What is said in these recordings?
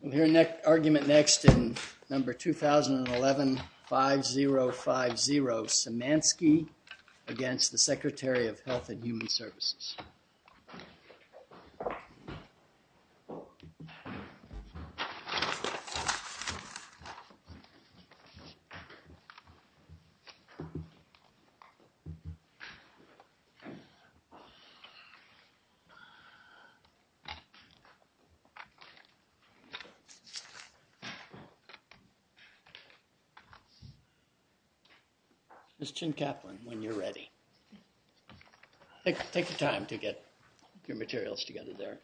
We'll hear argument next in number 2011-5050, Simanski against the Secretary of Health and Human Services. Ms. Chin-Kaplan, when you're ready. Take the time to get your materials together there.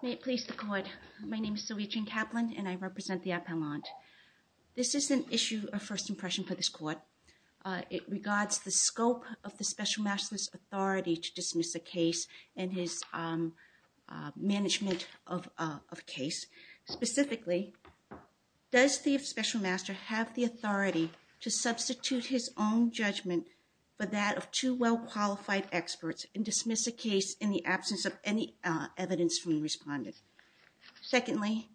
My name is Sylvia Chin-Kaplan, and I represent the Appellant. This is an issue of first impression for this court. It regards the scope of the Special Master's authority to dismiss a case and his management of a case. Specifically, does the Special Master have the authority to substitute his own judgment for that of two well-qualified experts and dismiss a case in the absence of any evidence from the respondent? Secondly,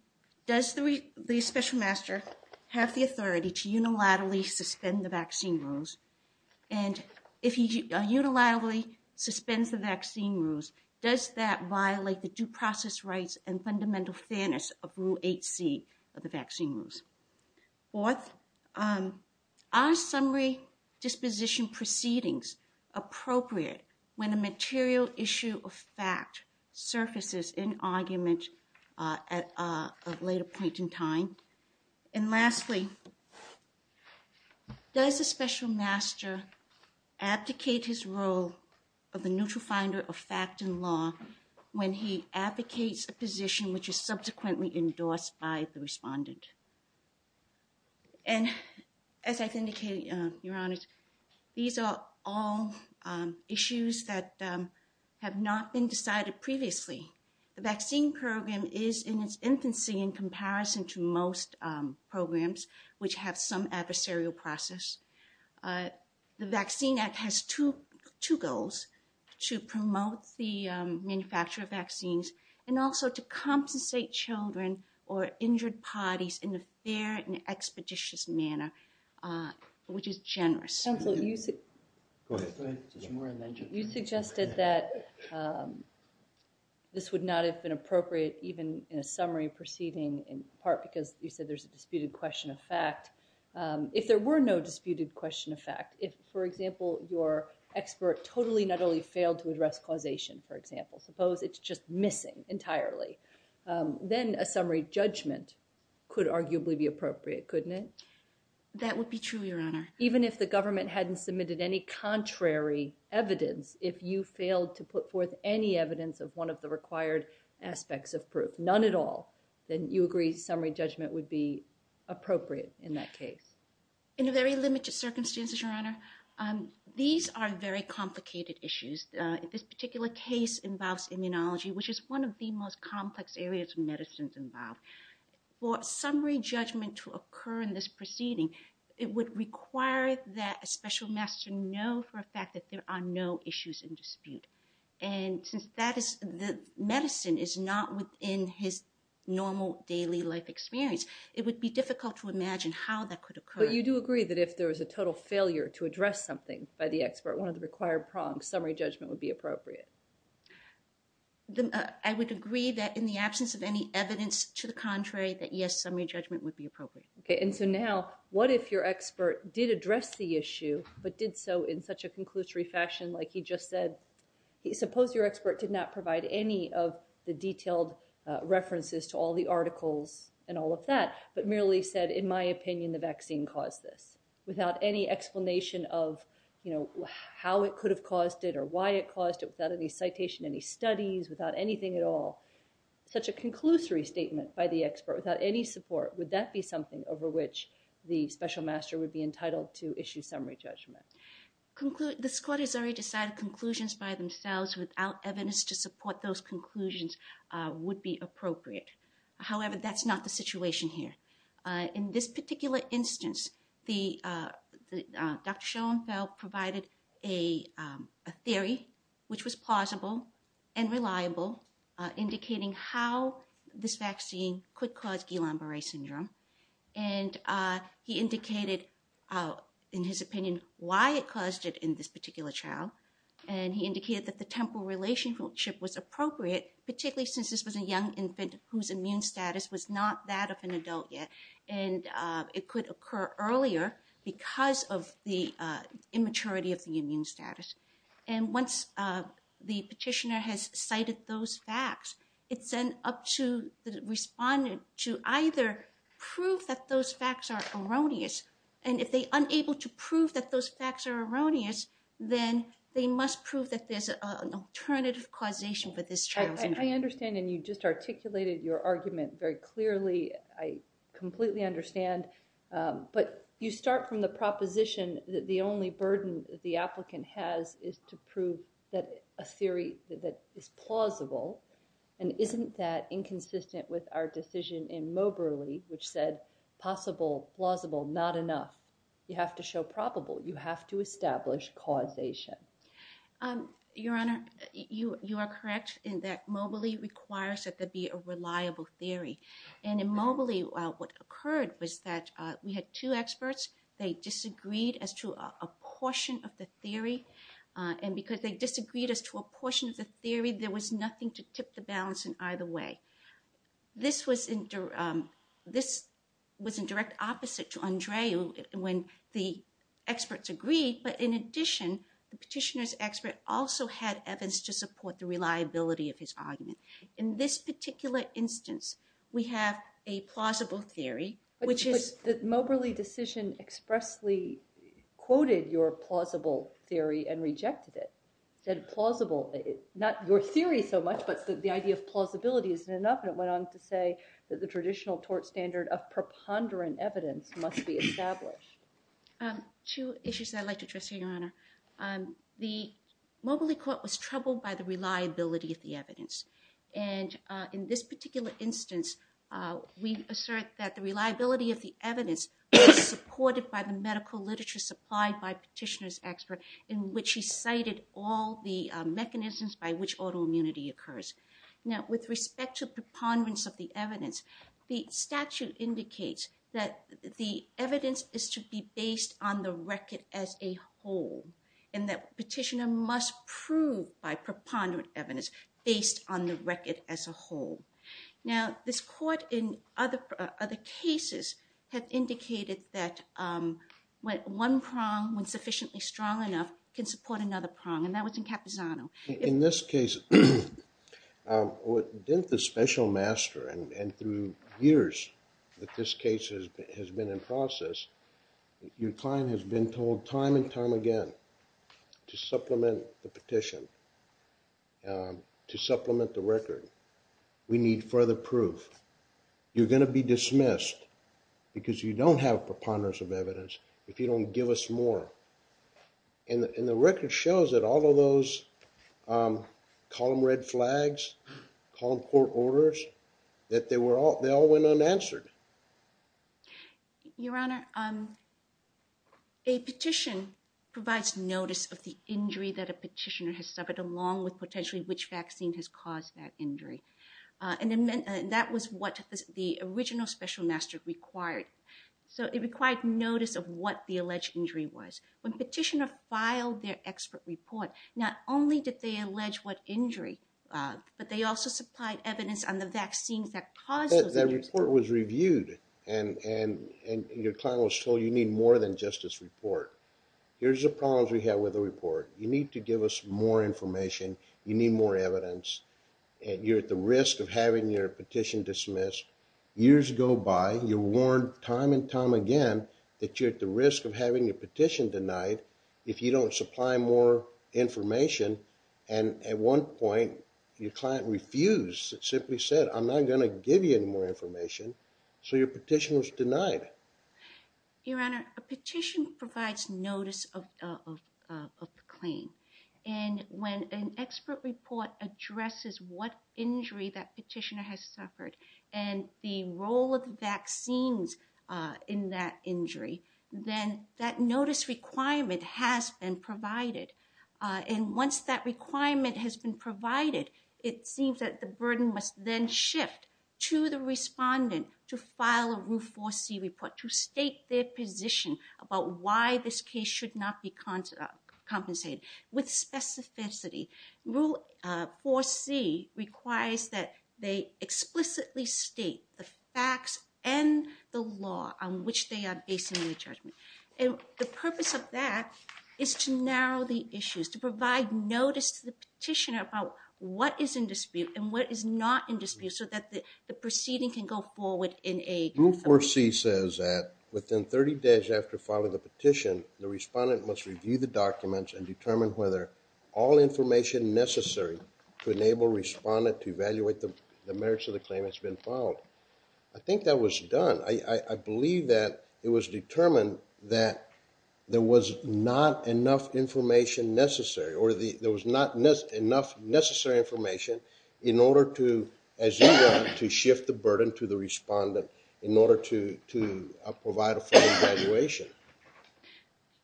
does the Special Master have the authority to unilaterally suspend the vaccine rules? And if he unilaterally suspends the vaccine rules, does that violate the due process rights and fundamental fairness of Rule 8C of the vaccine rules? Fourth, are summary disposition proceedings appropriate when a material issue of fact surfaces in argument at a later point in time? And lastly, does the Special Master abdicate his role of the neutral finder of fact and law when he abdicates a position which is subsequently endorsed by the respondent? And as I've indicated, Your Honors, these are all issues that have not been decided previously. The vaccine program is in its infancy in comparison to most programs which have some adversarial process. The Vaccine Act has two goals, to promote the manufacture of vaccines and also to compensate children or injured parties in a fair and expeditious manner, which is generous. Go ahead. You suggested that this would not have been appropriate even in a summary proceeding in part because you said there's a disputed question of fact. If there were no disputed question of fact, if, for example, your expert totally not only failed to address causation, for example, suppose it's just missing entirely, then a summary judgment could arguably be appropriate, couldn't it? That would be true, Your Honor. Even if the government hadn't submitted any contrary evidence, if you failed to put forth any evidence of one of the required aspects of proof, none at all, then you agree summary judgment would be appropriate in that case. In a very limited circumstance, Your Honor, these are very complicated issues. This particular case involves immunology, which is one of the most complex areas of medicine involved. For summary judgment to occur in this proceeding, it would require that a special master know for a fact that there are no issues in dispute. And since the medicine is not within his normal daily life experience, it would be difficult to imagine how that could occur. But you do agree that if there was a total failure to address something by the expert, one of the required prongs, summary judgment would be appropriate. I would agree that in the absence of any evidence to the contrary, that yes, summary judgment would be appropriate. Okay, and so now, what if your expert did address the issue, but did so in such a conclusory fashion like he just said? Suppose your expert did not provide any of the detailed references to all the articles and all of that, but merely said, in my opinion, the vaccine caused this. Without any explanation of, you know, how it could have caused it or why it caused it, without any citation, any studies, without anything at all. Such a conclusory statement by the expert without any support, would that be something over which the special master would be entitled to issue summary judgment? The court has already decided conclusions by themselves without evidence to support those conclusions would be appropriate. However, that's not the situation here. In this particular instance, Dr. Schoenfeld provided a theory, which was plausible and reliable, indicating how this vaccine could cause Guillain-Barre syndrome. And he indicated, in his opinion, why it caused it in this particular child. And he indicated that the temporal relationship was appropriate, particularly since this was a young infant whose immune status was not that of an adult yet. And it could occur earlier because of the immaturity of the immune status. And once the petitioner has cited those facts, it's then up to the respondent to either prove that those facts are erroneous. And if they are unable to prove that those facts are erroneous, then they must prove that there's an alternative causation for this child. I understand. And you just articulated your argument very clearly. I completely understand. But you start from the proposition that the only burden the applicant has is to prove that a theory that is plausible. And isn't that inconsistent with our decision in Moberly, which said possible, plausible, not enough? You have to show probable. You have to establish causation. Your Honor, you are correct in that Moberly requires that there be a reliable theory. And in Moberly, what occurred was that we had two experts. They disagreed as to a portion of the theory. And because they disagreed as to a portion of the theory, there was nothing to tip the balance in either way. This was in direct opposite to Andre when the experts agreed. But in addition, the petitioner's expert also had evidence to support the reliability of his argument. In this particular instance, we have a plausible theory, which is- But the Moberly decision expressly quoted your plausible theory and rejected it. Said plausible, not your theory so much, but the idea of plausibility isn't enough. And it went on to say that the traditional tort standard of preponderant evidence must be established. Two issues I'd like to address here, Your Honor. The Moberly court was troubled by the reliability of the evidence. And in this particular instance, we assert that the reliability of the evidence was supported by the medical literature supplied by petitioner's expert, in which he cited all the mechanisms by which autoimmunity occurs. Now, with respect to preponderance of the evidence, the statute indicates that the evidence is to be based on the record as a whole, and that petitioner must prove by preponderant evidence based on the record as a whole. Now, this court in other cases have indicated that one prong, when sufficiently strong enough, can support another prong, and that was in Capizano. In this case, within the special master and through years that this case has been in process, your client has been told time and time again to supplement the petition, to supplement the record. We need further proof. You're going to be dismissed because you don't have preponderance of evidence if you don't give us more. And the record shows that all of those column red flags, column court orders, that they all went unanswered. Your Honor, a petition provides notice of the injury that a petitioner has suffered, along with potentially which vaccine has caused that injury. And that was what the original special master required. So it required notice of what the alleged injury was. When petitioner filed their expert report, not only did they allege what injury, but they also supplied evidence on the vaccines that caused those injuries. That report was reviewed, and your client was told you need more than just this report. Here's the problems we have with the report. You need to give us more information. You need more evidence. And you're at the risk of having your petition dismissed. Years go by. You're warned time and time again that you're at the risk of having your petition denied if you don't supply more information. And at one point, your client refused. It simply said, I'm not going to give you any more information. So your petition was denied. Your Honor, a petition provides notice of the claim. And when an expert report addresses what injury that petitioner has suffered and the role of vaccines in that injury, then that notice requirement has been provided. And once that requirement has been provided, it seems that the burden must then shift to the respondent to file a Rule 4C report to state their position about why this case should not be compensated. With specificity, Rule 4C requires that they explicitly state the facts and the law on which they are basing their judgment. And the purpose of that is to narrow the issues, to provide notice to the petitioner about what is in dispute and what is not in dispute so that the proceeding can go forward in a... Rule 4C says that within 30 days after filing the petition, the respondent must review the documents and determine whether all information necessary to enable the respondent to evaluate the merits of the claim has been followed. I think that was done. I believe that it was determined that there was not enough information necessary or there was not enough necessary information in order to, as you know, to shift the burden to the respondent in order to provide a full evaluation.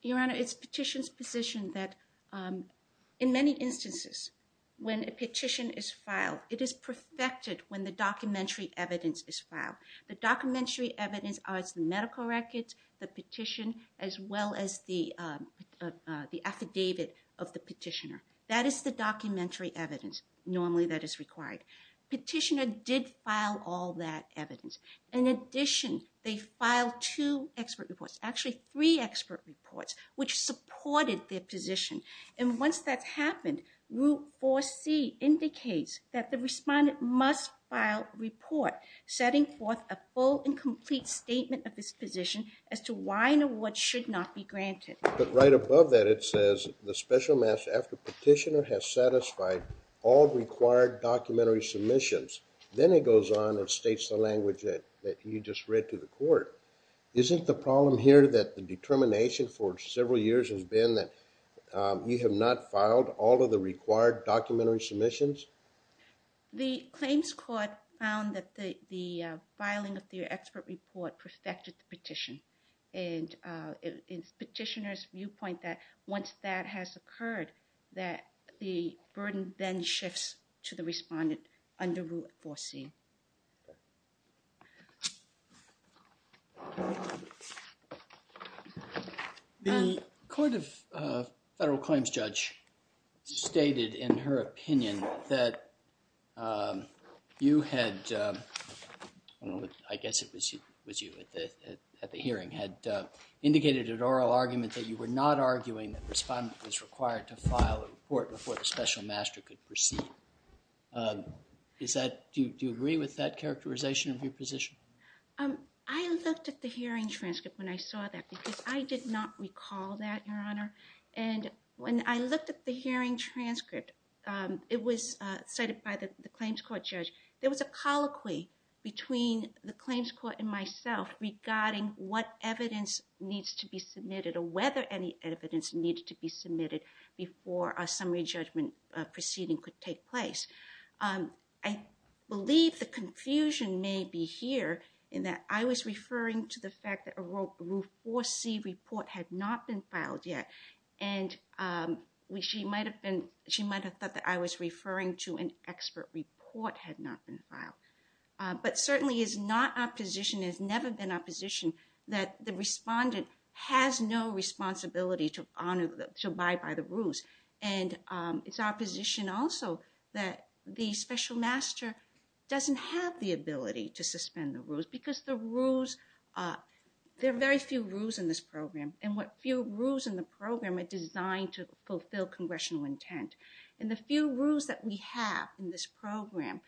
Your Honor, it's petition's position that in many instances when a petition is filed, it is perfected when the documentary evidence is filed. The documentary evidence are the medical records, the petition, as well as the affidavit of the petitioner. That is the documentary evidence normally that is required. Petitioner did file all that evidence. In addition, they filed two expert reports, actually three expert reports, which supported their position. And once that's happened, Rule 4C indicates that the respondent must file a report setting forth a full and complete statement of this position as to why an award should not be granted. But right above that it says, after petitioner has satisfied all required documentary submissions, then it goes on and states the language that you just read to the court. Isn't the problem here that the determination for several years has been that you have not filed all of the required documentary submissions? The claims court found that the filing of the expert report perfected the petition. And it's petitioner's viewpoint that once that has occurred, that the burden then shifts to the respondent under Rule 4C. The court of federal claims judge stated in her opinion that you had, I guess it was you at the hearing, had indicated an oral argument that you were not arguing that the respondent was required to file a report before the special master could proceed. Do you agree with that characterization of your position? I looked at the hearing transcript when I saw that because I did not recall that, Your Honor. And when I looked at the hearing transcript, it was cited by the claims court judge. There was a colloquy between the claims court and myself regarding what evidence needs to be submitted or whether any evidence needed to be submitted before a summary judgment proceeding could take place. I believe the confusion may be here in that I was referring to the fact that a Rule 4C report had not been filed yet. And she might have thought that I was referring to an expert report had not been filed. But certainly it's not our position, it's never been our position, that the respondent has no responsibility to abide by the rules. And it's our position also that the special master doesn't have the ability to suspend the rules because there are very few rules in this program. And what few rules in the program are designed to fulfill congressional intent. And the few rules that we have in this program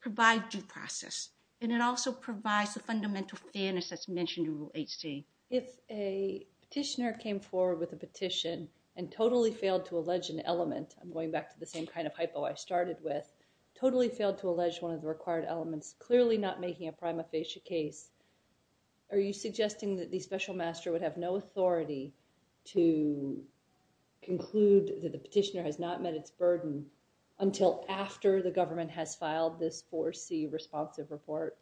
provide due process. And it also provides the fundamental fairness that's mentioned in Rule 8C. If a petitioner came forward with a petition and totally failed to allege an element, I'm going back to the same kind of hypo I started with, totally failed to allege one of the required elements, clearly not making a prima facie case, are you suggesting that the special master would have no authority to conclude that the petitioner has not met its burden until after the government has filed this 4C responsive report?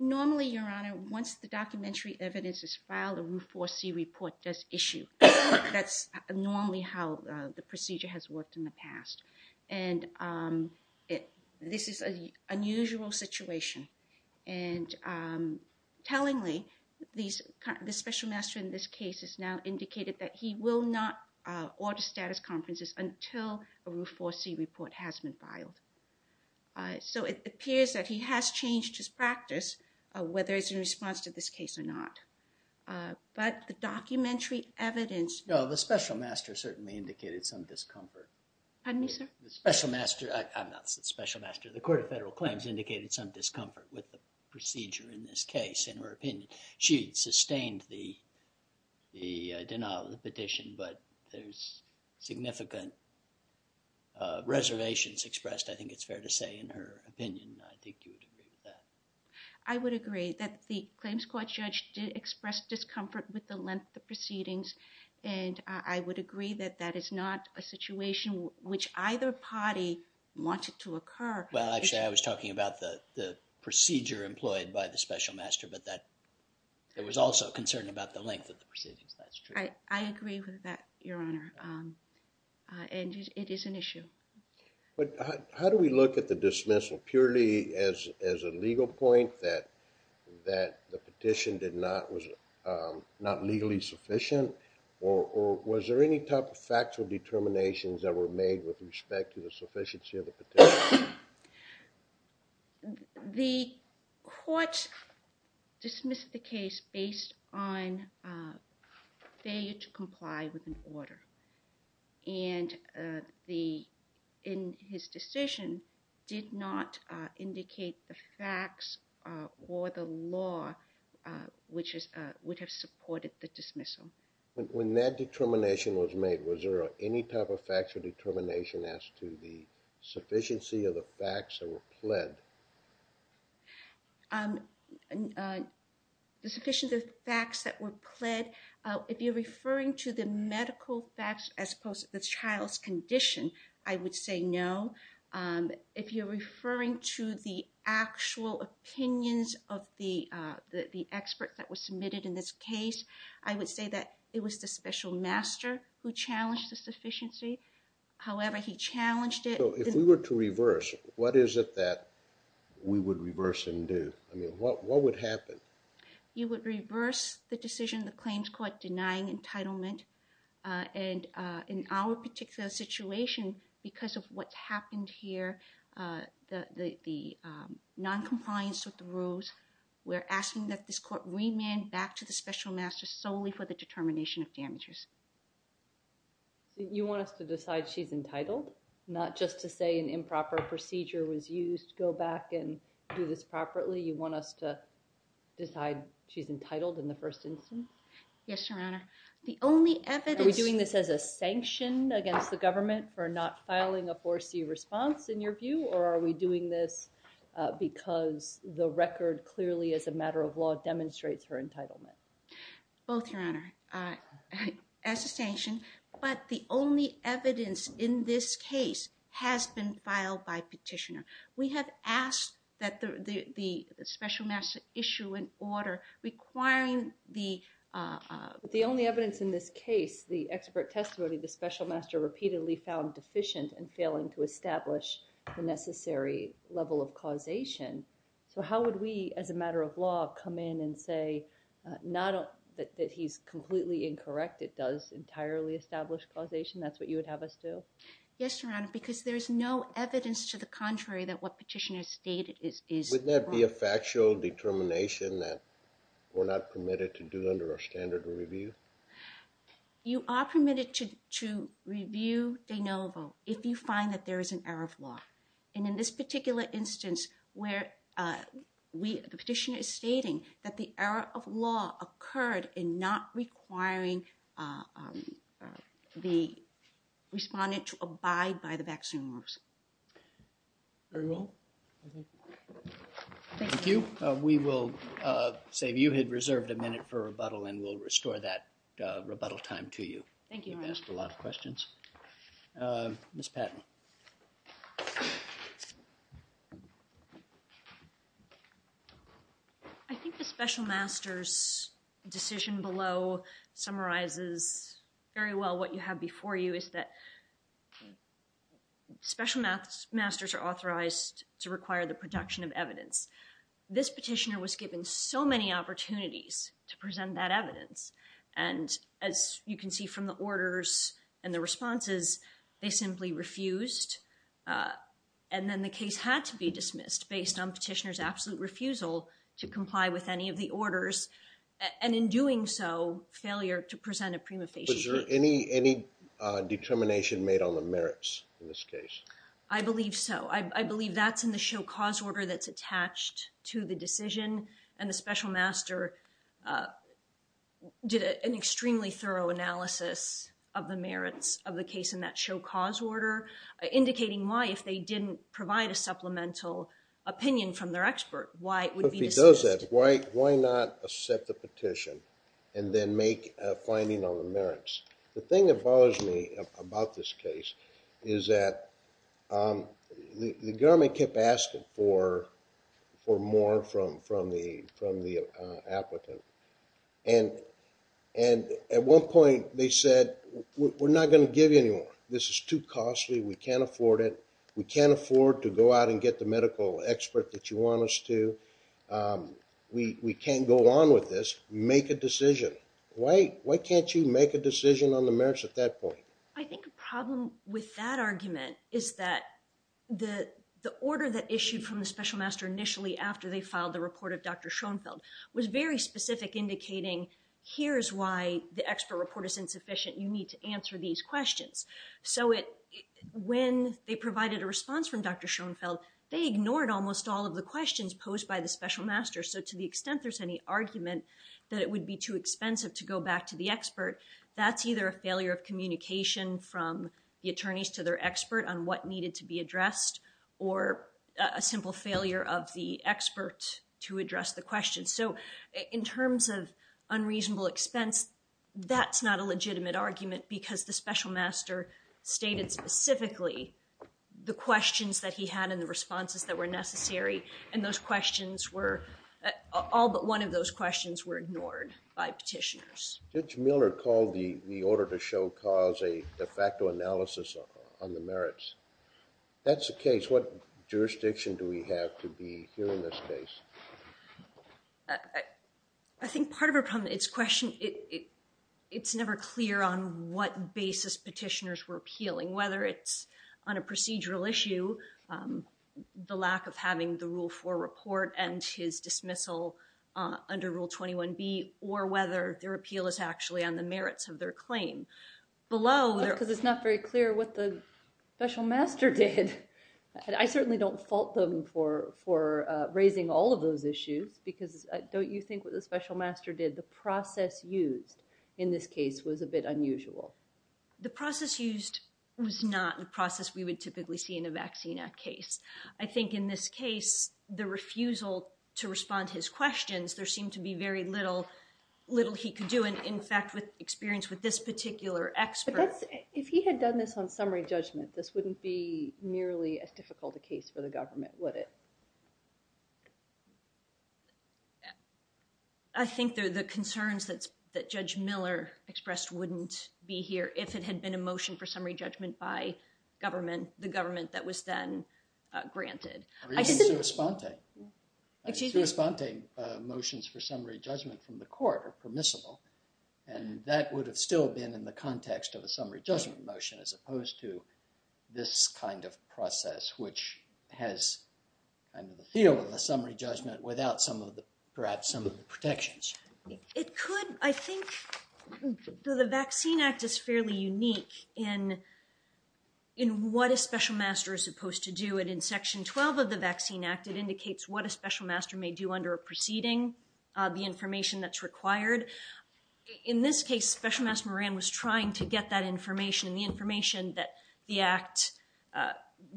Normally, Your Honor, once the documentary evidence is filed, a Rule 4C report does issue. That's normally how the procedure has worked in the past. And this is an unusual situation. And tellingly, the special master in this case has now indicated that he will not order status conferences until a Rule 4C report has been filed. So it appears that he has changed his practice, whether it's in response to this case or not. But the documentary evidence... No, the special master certainly indicated some discomfort. Pardon me, sir? The special master, I'm not saying special master, the court of federal claims indicated some discomfort with the procedure in this case, in her opinion. She sustained the denial of the petition, but there's significant reservations expressed, I think it's fair to say, in her opinion. I think you would agree with that. I would agree that the claims court judge did express discomfort with the length of proceedings, and I would agree that that is not a situation which either party wanted to occur. Well, actually, I was talking about the procedure employed by the special master, but there was also concern about the length of the proceedings. That's true. I agree with that, Your Honor, and it is an issue. But how do we look at the dismissal purely as a legal point that the petition was not legally sufficient? Or was there any type of factual determinations that were made with respect to the sufficiency of the petition? The court dismissed the case based on failure to comply with an order, and his decision did not indicate the facts or the law which would have supported the dismissal. When that determination was made, was there any type of factual determination as to the sufficiency of the facts that were pled? The sufficiency of the facts that were pled, if you're referring to the medical facts as opposed to the child's condition, I would say no. If you're referring to the actual opinions of the experts that were submitted in this case, I would say that it was the special master who challenged the sufficiency. However, he challenged it. If we were to reverse, what is it that we would reverse and do? I mean, what would happen? You would reverse the decision of the claims court denying entitlement, and in our particular situation, because of what happened here, the noncompliance with the rules, we're asking that this court remand back to the special master solely for the determination of damages. You want us to decide she's entitled, not just to say an improper procedure was used, go back and do this properly? You want us to decide she's entitled in the first instance? Yes, Your Honor. Are we doing this as a sanction against the government for not filing a 4C response, in your view, or are we doing this because the record clearly, as a matter of law, demonstrates her entitlement? Both, Your Honor. As a sanction, but the only evidence in this case has been filed by petitioner. We have asked that the special master issue an order requiring the... But the only evidence in this case, the expert testimony, the special master repeatedly found deficient in failing to establish the necessary level of causation. So how would we, as a matter of law, come in and say, not that he's completely incorrect, it does entirely establish causation, that's what you would have us do? Yes, Your Honor, because there's no evidence to the contrary that what petitioner stated is wrong. Wouldn't that be a factual determination that we're not permitted to do under our standard of review? You are permitted to review de novo if you find that there is an error of law. And in this particular instance where the petitioner is stating that the error of law occurred in not requiring the respondent to abide by the vaccine rules. Very well. We will say you had reserved a minute for rebuttal and we'll restore that rebuttal time to you. Thank you, Your Honor. You've asked a lot of questions. Ms. Patton. I think the special master's decision below summarizes very well what you have before you, is that special masters are authorized to require the production of evidence. This petitioner was given so many opportunities to present that evidence. And as you can see from the orders and the responses, they simply refused. And then the case had to be dismissed based on petitioner's absolute refusal to comply with any of the orders. And in doing so, failure to present a prima facie case. Was there any determination made on the merits in this case? I believe so. I believe that's in the show cause order that's And the special master did an extremely thorough analysis of the merits of the case in that show cause order, indicating why, if they didn't provide a supplemental opinion from their expert, why it would be dismissed. If he does that, why not accept the petition and then make a finding on the merits? The thing that bothers me about this case is that the government kept asking for more from the applicant. And at one point, they said, we're not going to give you any more. This is too costly. We can't afford it. We can't afford to go out and get the medical expert that you want us to. We can't go on with this. Make a decision. Why can't you make a decision on the merits at that point? I think the problem with that argument is that the order that issued from the special master initially after they filed the report of Dr. Schoenfeld was very specific, indicating here is why the expert report is insufficient. You need to answer these questions. So when they provided a response from Dr. Schoenfeld, they ignored almost all of the questions posed by the special master. So to the extent there's any argument that it would be too expensive to go back to the expert, that's either a failure of communication from the attorneys to their expert on what needed to be addressed or a simple failure of the expert to address the question. So in terms of unreasonable expense, that's not a legitimate argument because the special master stated specifically the questions that he had and the responses that were necessary. And all but one of those questions were ignored by petitioners. Judge Miller called the order to show cause a de facto analysis on the merits. That's the case. What jurisdiction do we have to be here in this case? I think part of its question, it's never clear on what basis petitioners were appealing, whether it's on a procedural issue, the lack of having the Rule 4 report and his dismissal under Rule 21B, or whether their appeal is actually on the merits of their claim. Because it's not very clear what the special master did. I certainly don't fault them for raising all of those issues because don't you think what the special master did, the process used in this case was a bit unusual? The process used was not the process we would typically see in a Vaccine Act case. I think in this case, the refusal to respond to his questions, there was little he could do. And in fact, with experience with this particular expert. But if he had done this on summary judgment, this wouldn't be nearly as difficult a case for the government, would it? I think the concerns that Judge Miller expressed wouldn't be here if it had been a motion for summary judgment by government, the government that was then granted. Reasons to respond to it. To respond to motions for summary judgment from the court are permissible. And that would have still been in the context of a summary judgment motion, as opposed to this kind of process, which has kind of the feel of a summary judgment without perhaps some of the protections. I think the Vaccine Act is fairly unique in what a special master is supposed to do. But in Section 12 of the Vaccine Act, it indicates what a special master may do under a proceeding. The information that's required. In this case, Special Master Moran was trying to get that information, the information that the act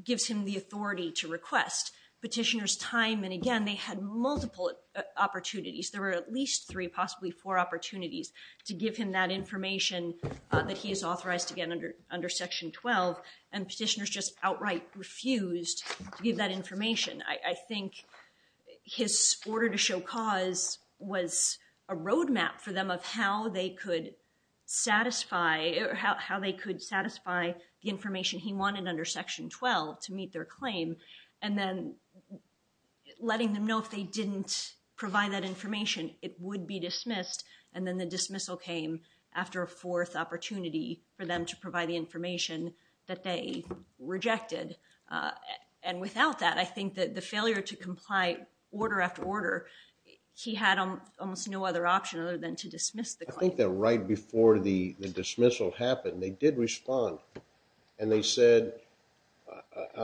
gives him the authority to request. Petitioners time and again, they had multiple opportunities. There were at least three, possibly four opportunities to give him that information that he is authorized to get under Section 12. And petitioners just outright refused to give that information. I think his order to show cause was a roadmap for them of how they could satisfy the information he wanted under Section 12 to meet their claim. And then letting them know if they didn't provide that information, it would be dismissed. And then the dismissal came after a fourth opportunity for them to provide the information that they rejected. And without that, I think that the failure to comply order after order, he had almost no other option other than to dismiss the claim. I think that right before the dismissal happened, they did respond. And they said,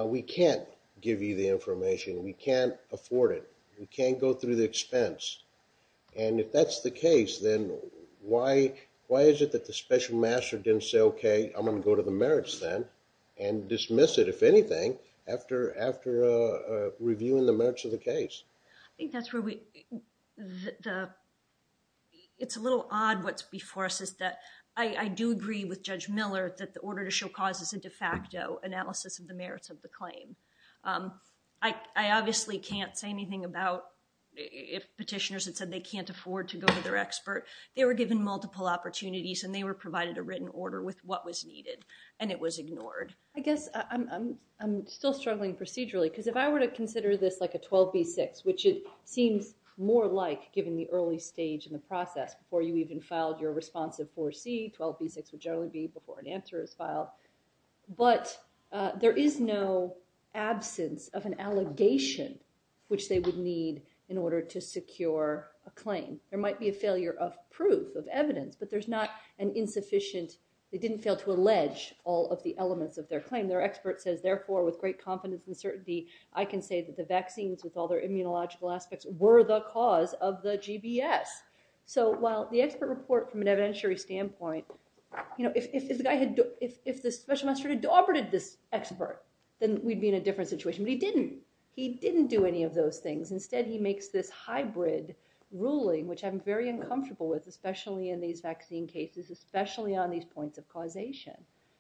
we can't give you the information. We can't afford it. We can't go through the expense. And if that's the case, then why is it that the special master didn't say, OK, I'm going to go to the merits then and dismiss it, if anything, after reviewing the merits of the case? It's a little odd what's before us is that I do agree with Judge Miller that the order to show cause is a de facto analysis of the merits of the claim. I obviously can't say anything about if petitioners had said they can't afford to go to their expert. They were given multiple opportunities. And they were provided a written order with what was needed. And it was ignored. I guess I'm still struggling procedurally. Because if I were to consider this like a 12B6, which it seems more like, given the early stage in the process before you even filed your responsive 4C, 12B6 would generally be before an answer is filed. which they would need in order to secure a claim. There might be a failure of proof, of evidence. But there's not an insufficient. They didn't fail to allege all of the elements of their claim. Their expert says, therefore, with great confidence and certainty, I can say that the vaccines, with all their immunological aspects, were the cause of the GBS. So while the expert report, from an evidentiary standpoint, if the special master had adopted this expert, then we'd be in a different situation. But he didn't. He didn't do any of those things. Instead, he makes this hybrid ruling, which I'm very uncomfortable with, especially in these vaccine cases, especially on these points of causation.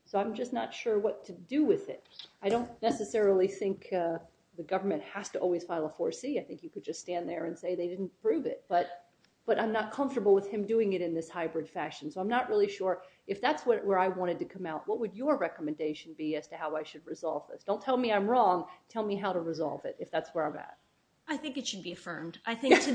So I'm just not sure what to do with it. I don't necessarily think the government has to always file a 4C. I think you could just stand there and say they didn't prove it. But I'm not comfortable with him doing it in this hybrid fashion. So I'm not really sure. If that's where I wanted to come out, what would your recommendation be as to how I should resolve this? Don't tell me I'm wrong. Tell me how to resolve it, if that's where I'm at. I think it should be affirmed. I think to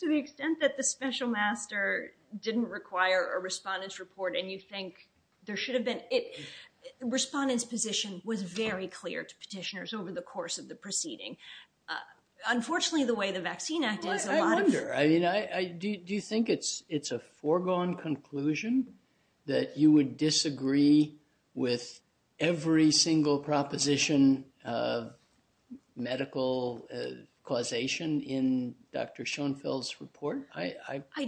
the extent that the special master didn't require a respondent's report, and you think there should have been, the respondent's position was very clear to petitioners over the course of the proceeding. Unfortunately, the way the Vaccine Act is, a lot of- I wonder. Do you think it's a foregone conclusion that you would disagree with every single proposition of medical causation in Dr. Schoenfeld's report? I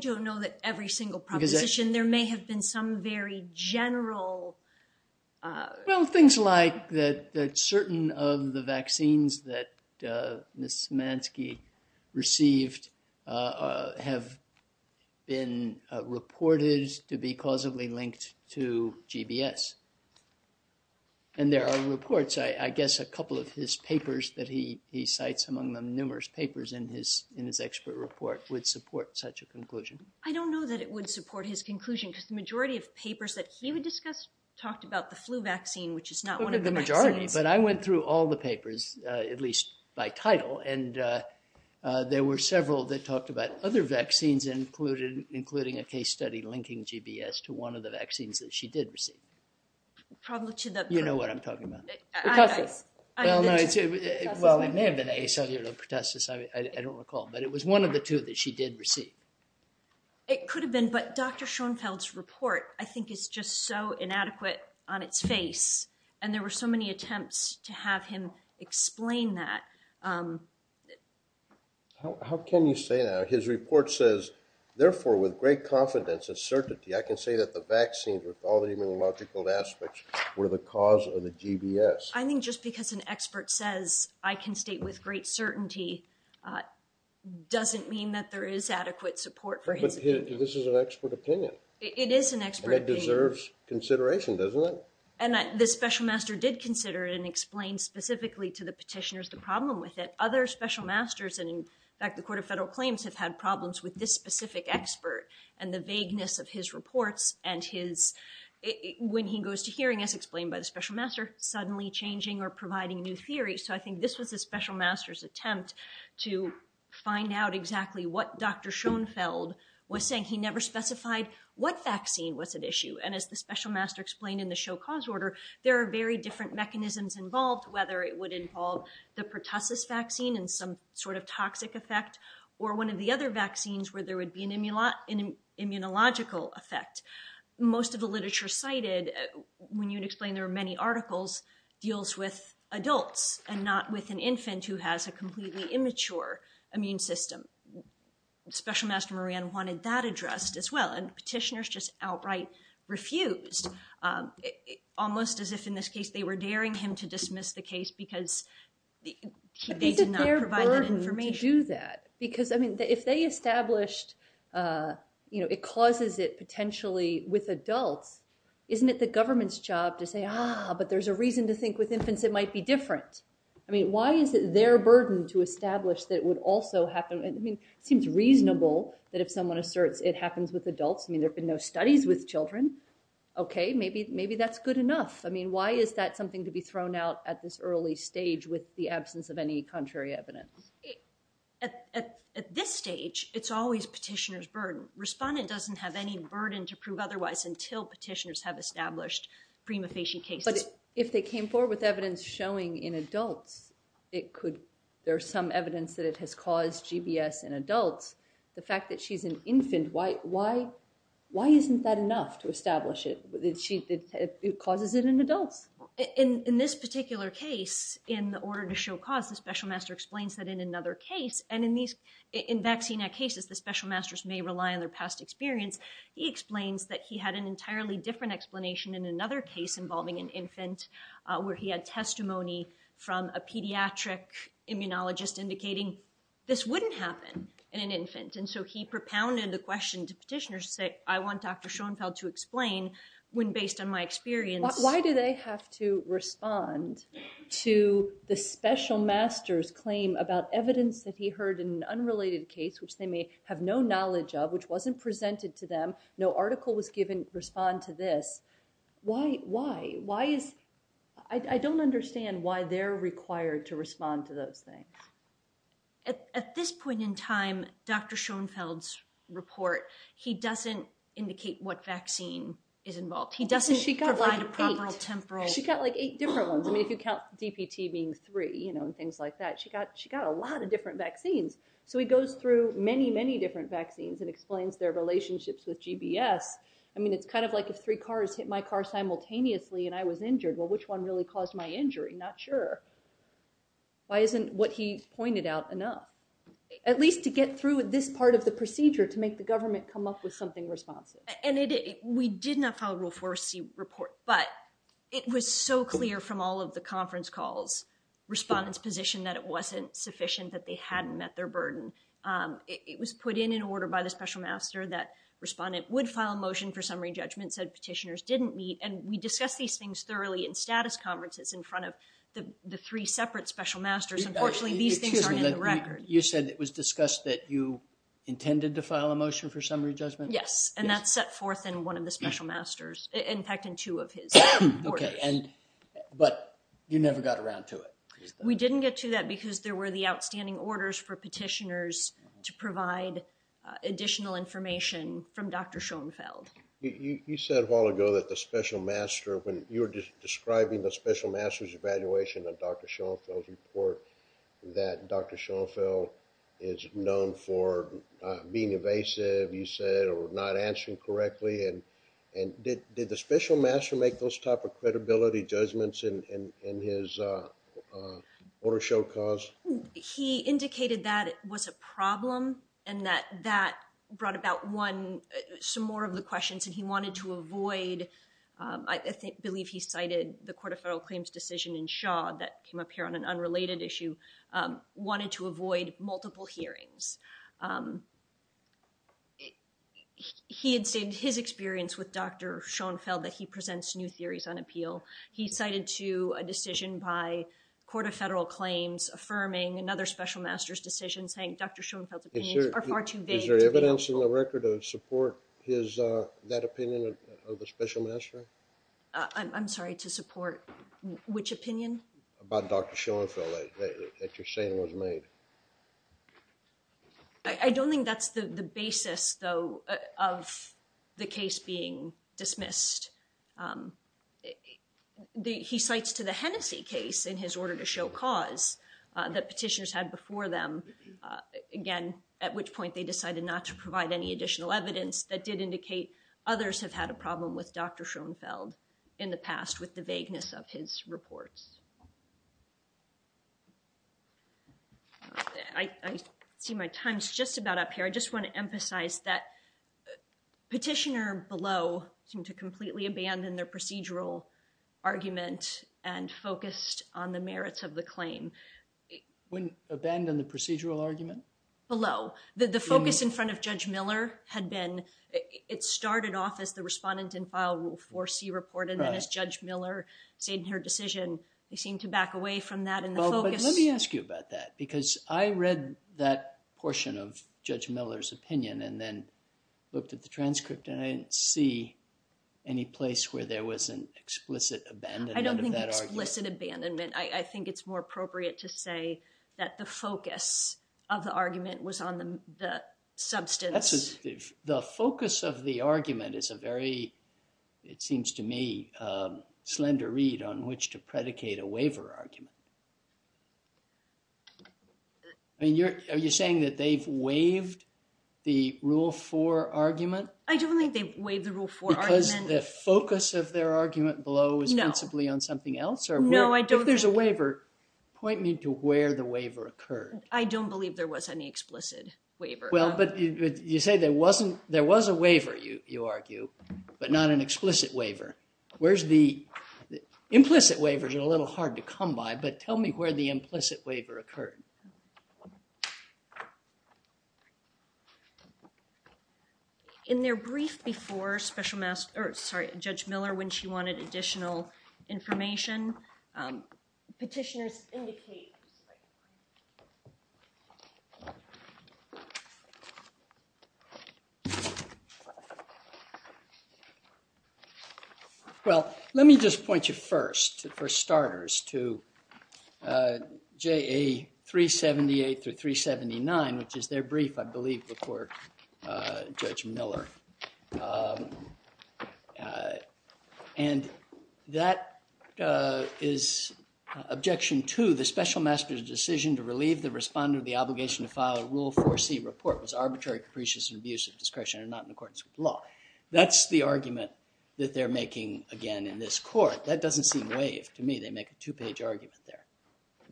don't know that every single proposition. There may have been some very general- Well, things like that certain of the vaccines that Ms. Szymanski received have been reported to be causally linked to GBS. And there are reports, I guess a couple of his papers that he cites, among them numerous papers in his expert report, would support such a conclusion. I don't know that it would support his conclusion because the majority of papers that he would discuss talked about the flu vaccine, which is not one of the vaccines. But I went through all the papers, at least by title, and there were several that talked about other vaccines, including a case study linking GBS to one of the vaccines that she did receive. Probably to the- You know what I'm talking about. Pertussis. Well, it may have been acellular pertussis. I don't recall. But it was one of the two that she did receive. It could have been. But Dr. Schoenfeld's report, I think, is just so inadequate on its face. And there were so many attempts to have him explain that. How can you say that? His report says, therefore, with great confidence and certainty, I can say that the vaccines, with all the immunological aspects, were the cause of the GBS. I think just because an expert says I can state with great certainty doesn't mean that there is adequate support for his opinion. But this is an expert opinion. It is an expert opinion. And it deserves consideration, doesn't it? And the special master did consider it and explain specifically to the petitioners the problem with it. Other special masters, and in fact the Court of Federal Claims, have had problems with this specific expert and the vagueness of his reports. And when he goes to hearing, as explained by the special master, suddenly changing or providing new theories. So I think this was the special master's attempt to find out exactly what Dr. Schoenfeld was saying. He never specified what vaccine was at issue. And as the special master explained in the show cause order, there are very different mechanisms involved, whether it would involve the pertussis vaccine and some sort of toxic effect, or one of the other vaccines where there would be an immunological effect. Most of the literature cited, when you explain there are many articles, deals with adults and not with an infant who has a completely immature immune system. Special master Moran wanted that addressed as well. And petitioners just outright refused, almost as if in this case they were daring him to dismiss the case because they did not provide that information. Why did their burden do that? Because, I mean, if they established, you know, it causes it potentially with adults, isn't it the government's job to say, ah, but there's a reason to think with infants it might be different? I mean, why is it their burden to establish that it would also happen... I mean, it seems reasonable that if someone asserts it happens with adults, I mean, there have been no studies with children. Okay, maybe that's good enough. I mean, why is that something to be thrown out at this early stage with the absence of any contrary evidence? At this stage, it's always petitioner's burden. Respondent doesn't have any burden to prove otherwise until petitioners have established prima facie cases. But if they came forward with evidence showing in adults, it could... there's some evidence that it has caused GBS in adults. The fact that she's an infant, why isn't that enough to establish it? It causes it in adults. In this particular case, in the order to show cause, the special master explains that in another case, and in vaccine-act cases, the special masters may rely on their past experience, he explains that he had an entirely different explanation in another case involving an infant where he had testimony from a pediatric immunologist indicating this wouldn't happen in an infant. And so he propounded the question to petitioners to say, I want Dr. Schoenfeld to explain, when based on my experience... Why do they have to respond to the special master's claim about evidence that he heard in an unrelated case, which they may have no knowledge of, which wasn't presented to them, no article was given to respond to this? Why? Why? Why is... I don't understand why they're required to respond to those things. At this point in time, Dr. Schoenfeld's report, he doesn't indicate what vaccine is involved. He doesn't provide a proper temporal... She got like eight different ones. I mean, if you count DPT being three, you know, and things like that, she got a lot of different vaccines. So he goes through many, many different vaccines and explains their relationships with GBS. I mean, it's kind of like if three cars hit my car simultaneously and I was injured, well, which one really caused my injury? I'm not sure. Why isn't what he pointed out enough? At least to get through this part of the procedure to make the government come up with something responsive. And we did not file a Rule 4C report, but it was so clear from all of the conference calls, respondents' position that it wasn't sufficient, that they hadn't met their burden. It was put in an order by the special master that respondent would file a motion for summary judgment, said petitioners didn't meet, and we discussed these things thoroughly in status conferences in front of the three separate special masters. Unfortunately, these things aren't in the record. You said it was discussed that you intended to file a motion for summary judgment? Yes, and that's set forth in one of the special masters, in fact in two of his orders. But you never got around to it. We didn't get to that because there were the outstanding orders for petitioners to provide additional information from Dr. Schoenfeld. You said a while ago that the special master, when you were describing the special master's evaluation of Dr. Schoenfeld's report, that Dr. Schoenfeld is known for being evasive, you said, or not answering correctly, and did the special master make those type of credibility judgments in his order show cause? He indicated that it was a problem and that that brought about some more of the questions and he wanted to avoid, I believe he cited the Court of Federal Claims decision in Shaw that came up here on an unrelated issue, wanted to avoid multiple hearings. He had stated in his experience with Dr. Schoenfeld that he presents new theories on appeal. He cited to a decision by Court of Federal Claims affirming another special master's decision saying Dr. Schoenfeld's Is there evidence in the record to support his, that opinion of the special master? I'm sorry, to support which opinion? About Dr. Schoenfeld that you're saying was made. I don't think that's the basis though of the case being dismissed. He cites to the Hennessey case in his order to show cause that petitioners had before them, again, at which point they decided not to provide any additional evidence that did indicate others have had a problem with Dr. Schoenfeld in the past with the vagueness of his reports. I see my time's just about up here. I just want to emphasize that petitioner below seemed to completely abandon their procedural argument and focused on the merits of the claim. Abandon the procedural argument? Below. The focus in front of Judge Miller had been, it started off as the respondent in file rule 4C report and then as Judge Miller stated in her decision, they seemed to back away from that in the focus. Let me ask you about that because I read that portion of Judge Miller's opinion and then looked at the transcript and I didn't see any place where there was an explicit abandonment of that argument. I don't think explicit is appropriate to say that the focus of the argument was on the substance. The focus of the argument is a very, it seems to me, slender read on which to predicate a waiver argument. Are you saying that they've waived the rule 4 argument? I don't think they've waived the rule 4 argument. Because the focus of their argument below was principally on something else? If there's a waiver, point me to where the waiver occurred. I don't believe there was any explicit waiver. You say there was a waiver, you argue, but not an explicit waiver. Implicit waivers are a little hard to come by, but tell me where the implicit waiver occurred. In their brief before Judge Miller, when she wanted additional information. Well, let me just point you first, for starters, to JA 378 through 379, which is their brief, I believe, before Judge Miller. And that is objection to the special master's decision to relieve the respondent of the obligation to file a rule 4C report was arbitrary, capricious, and abuse of discretion and not in accordance with law. That's the argument that they're making again in this court. That doesn't seem waived to me. They make a two-page argument there.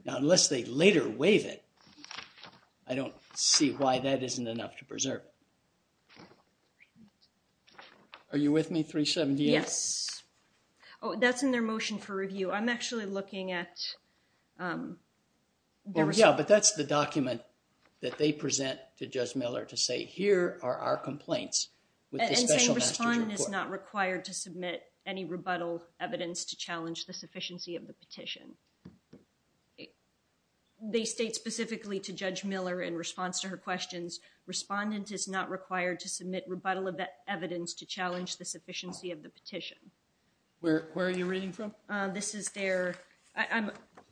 Now unless they later waive it, I don't see why that isn't enough to preserve. All right. Are you with me, 378? Yes. That's in their motion for review. I'm actually looking at their response. Yeah, but that's the document that they present to Judge Miller to say, here are our complaints with the special master's report. Respondent is not required to submit any rebuttal evidence to challenge the sufficiency of the petition. They state specifically to Judge Miller in response to her questions, respondent is not required to submit rebuttal evidence to challenge the sufficiency of the petition. Where are you reading from? I'm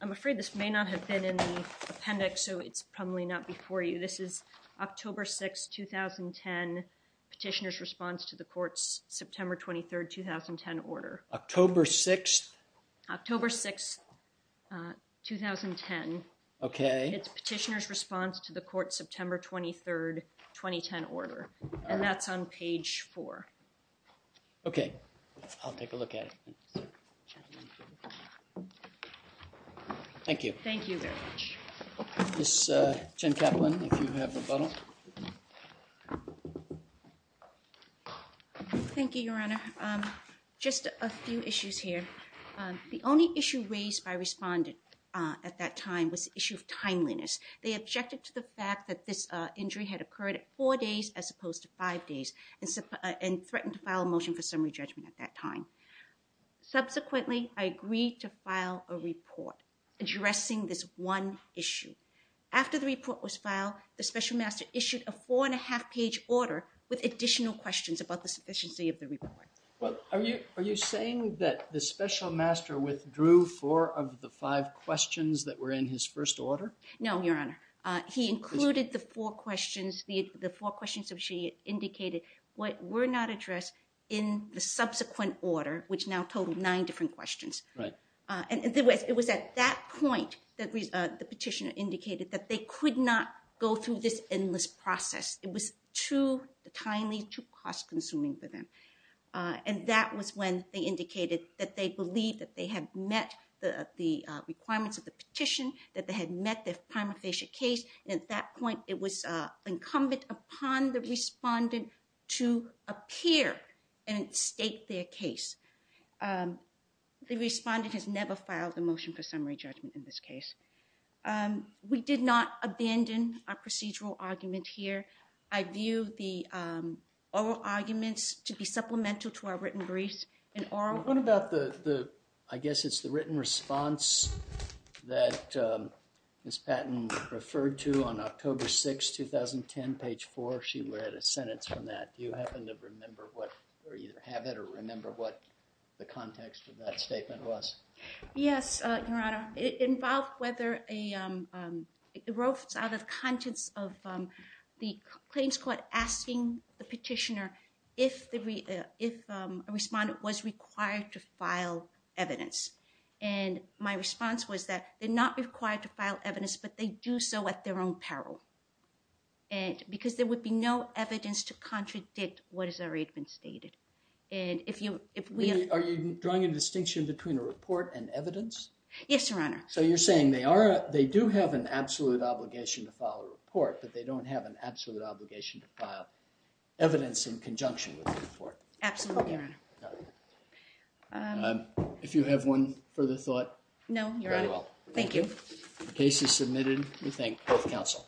afraid this may not have been in the appendix, so it's probably not before you. This is October 6, 2010 petitioner's response to the court's September 23, 2010 order. October 6? October 6, 2010. Okay. It's petitioner's response to the court's September 23, 2010 order, and that's on page 4. Okay. I'll take a look at it. Thank you. Thank you very much. Ms. Jen Kaplan, if you have rebuttal. Thank you, Your Honor. Just a few issues here. The only issue raised by respondent at that time was the issue of timeliness. They objected to the fact that this injury had occurred at four days as opposed to five days and threatened to file a motion for summary judgment at that time. Subsequently, I agreed to file a report addressing this one issue. After the report was filed, the special master issued a four-and-a-half-page order with additional questions about the sufficiency of the report. Are you saying that the special master withdrew four of the five questions that were in his first order? No, Your Honor. He included the four questions which he indicated were not addressed in the subsequent order, which now totaled nine different questions. It was at that point that the petitioner indicated that they could not go through this endless process. It was too timely, too cost-consuming for them. And that was when they indicated that they believed that they had met the requirements of the petition, that they had met their prima facie case. At that point, it was incumbent upon the respondent to appear and state their case. The respondent has never filed a motion for summary judgment in this case. We did not abandon our procedural argument here. I view the oral arguments to be supplemental to our written briefs. What about the written response that Ms. Patton referred to on October 6, 2010, page 4? She read a sentence from that. Do you have it or remember what the context of that statement was? Yes, Your Honor. It involved whether it erodes out of the contents of the claims court asking the petitioner if a respondent was required to file evidence. My response was that they're not required to file evidence, but they do so at their own peril because there would be no evidence to contradict what has already been stated. Are you drawing a distinction between a report and evidence? Yes, Your Honor. So you're saying they do have an absolute obligation to file a report, but they don't have an absolute obligation to file evidence in conjunction with the report? Absolutely, Your Honor. If you have one further thought? No, Your Honor. Thank you. The case is submitted. We thank both counsel.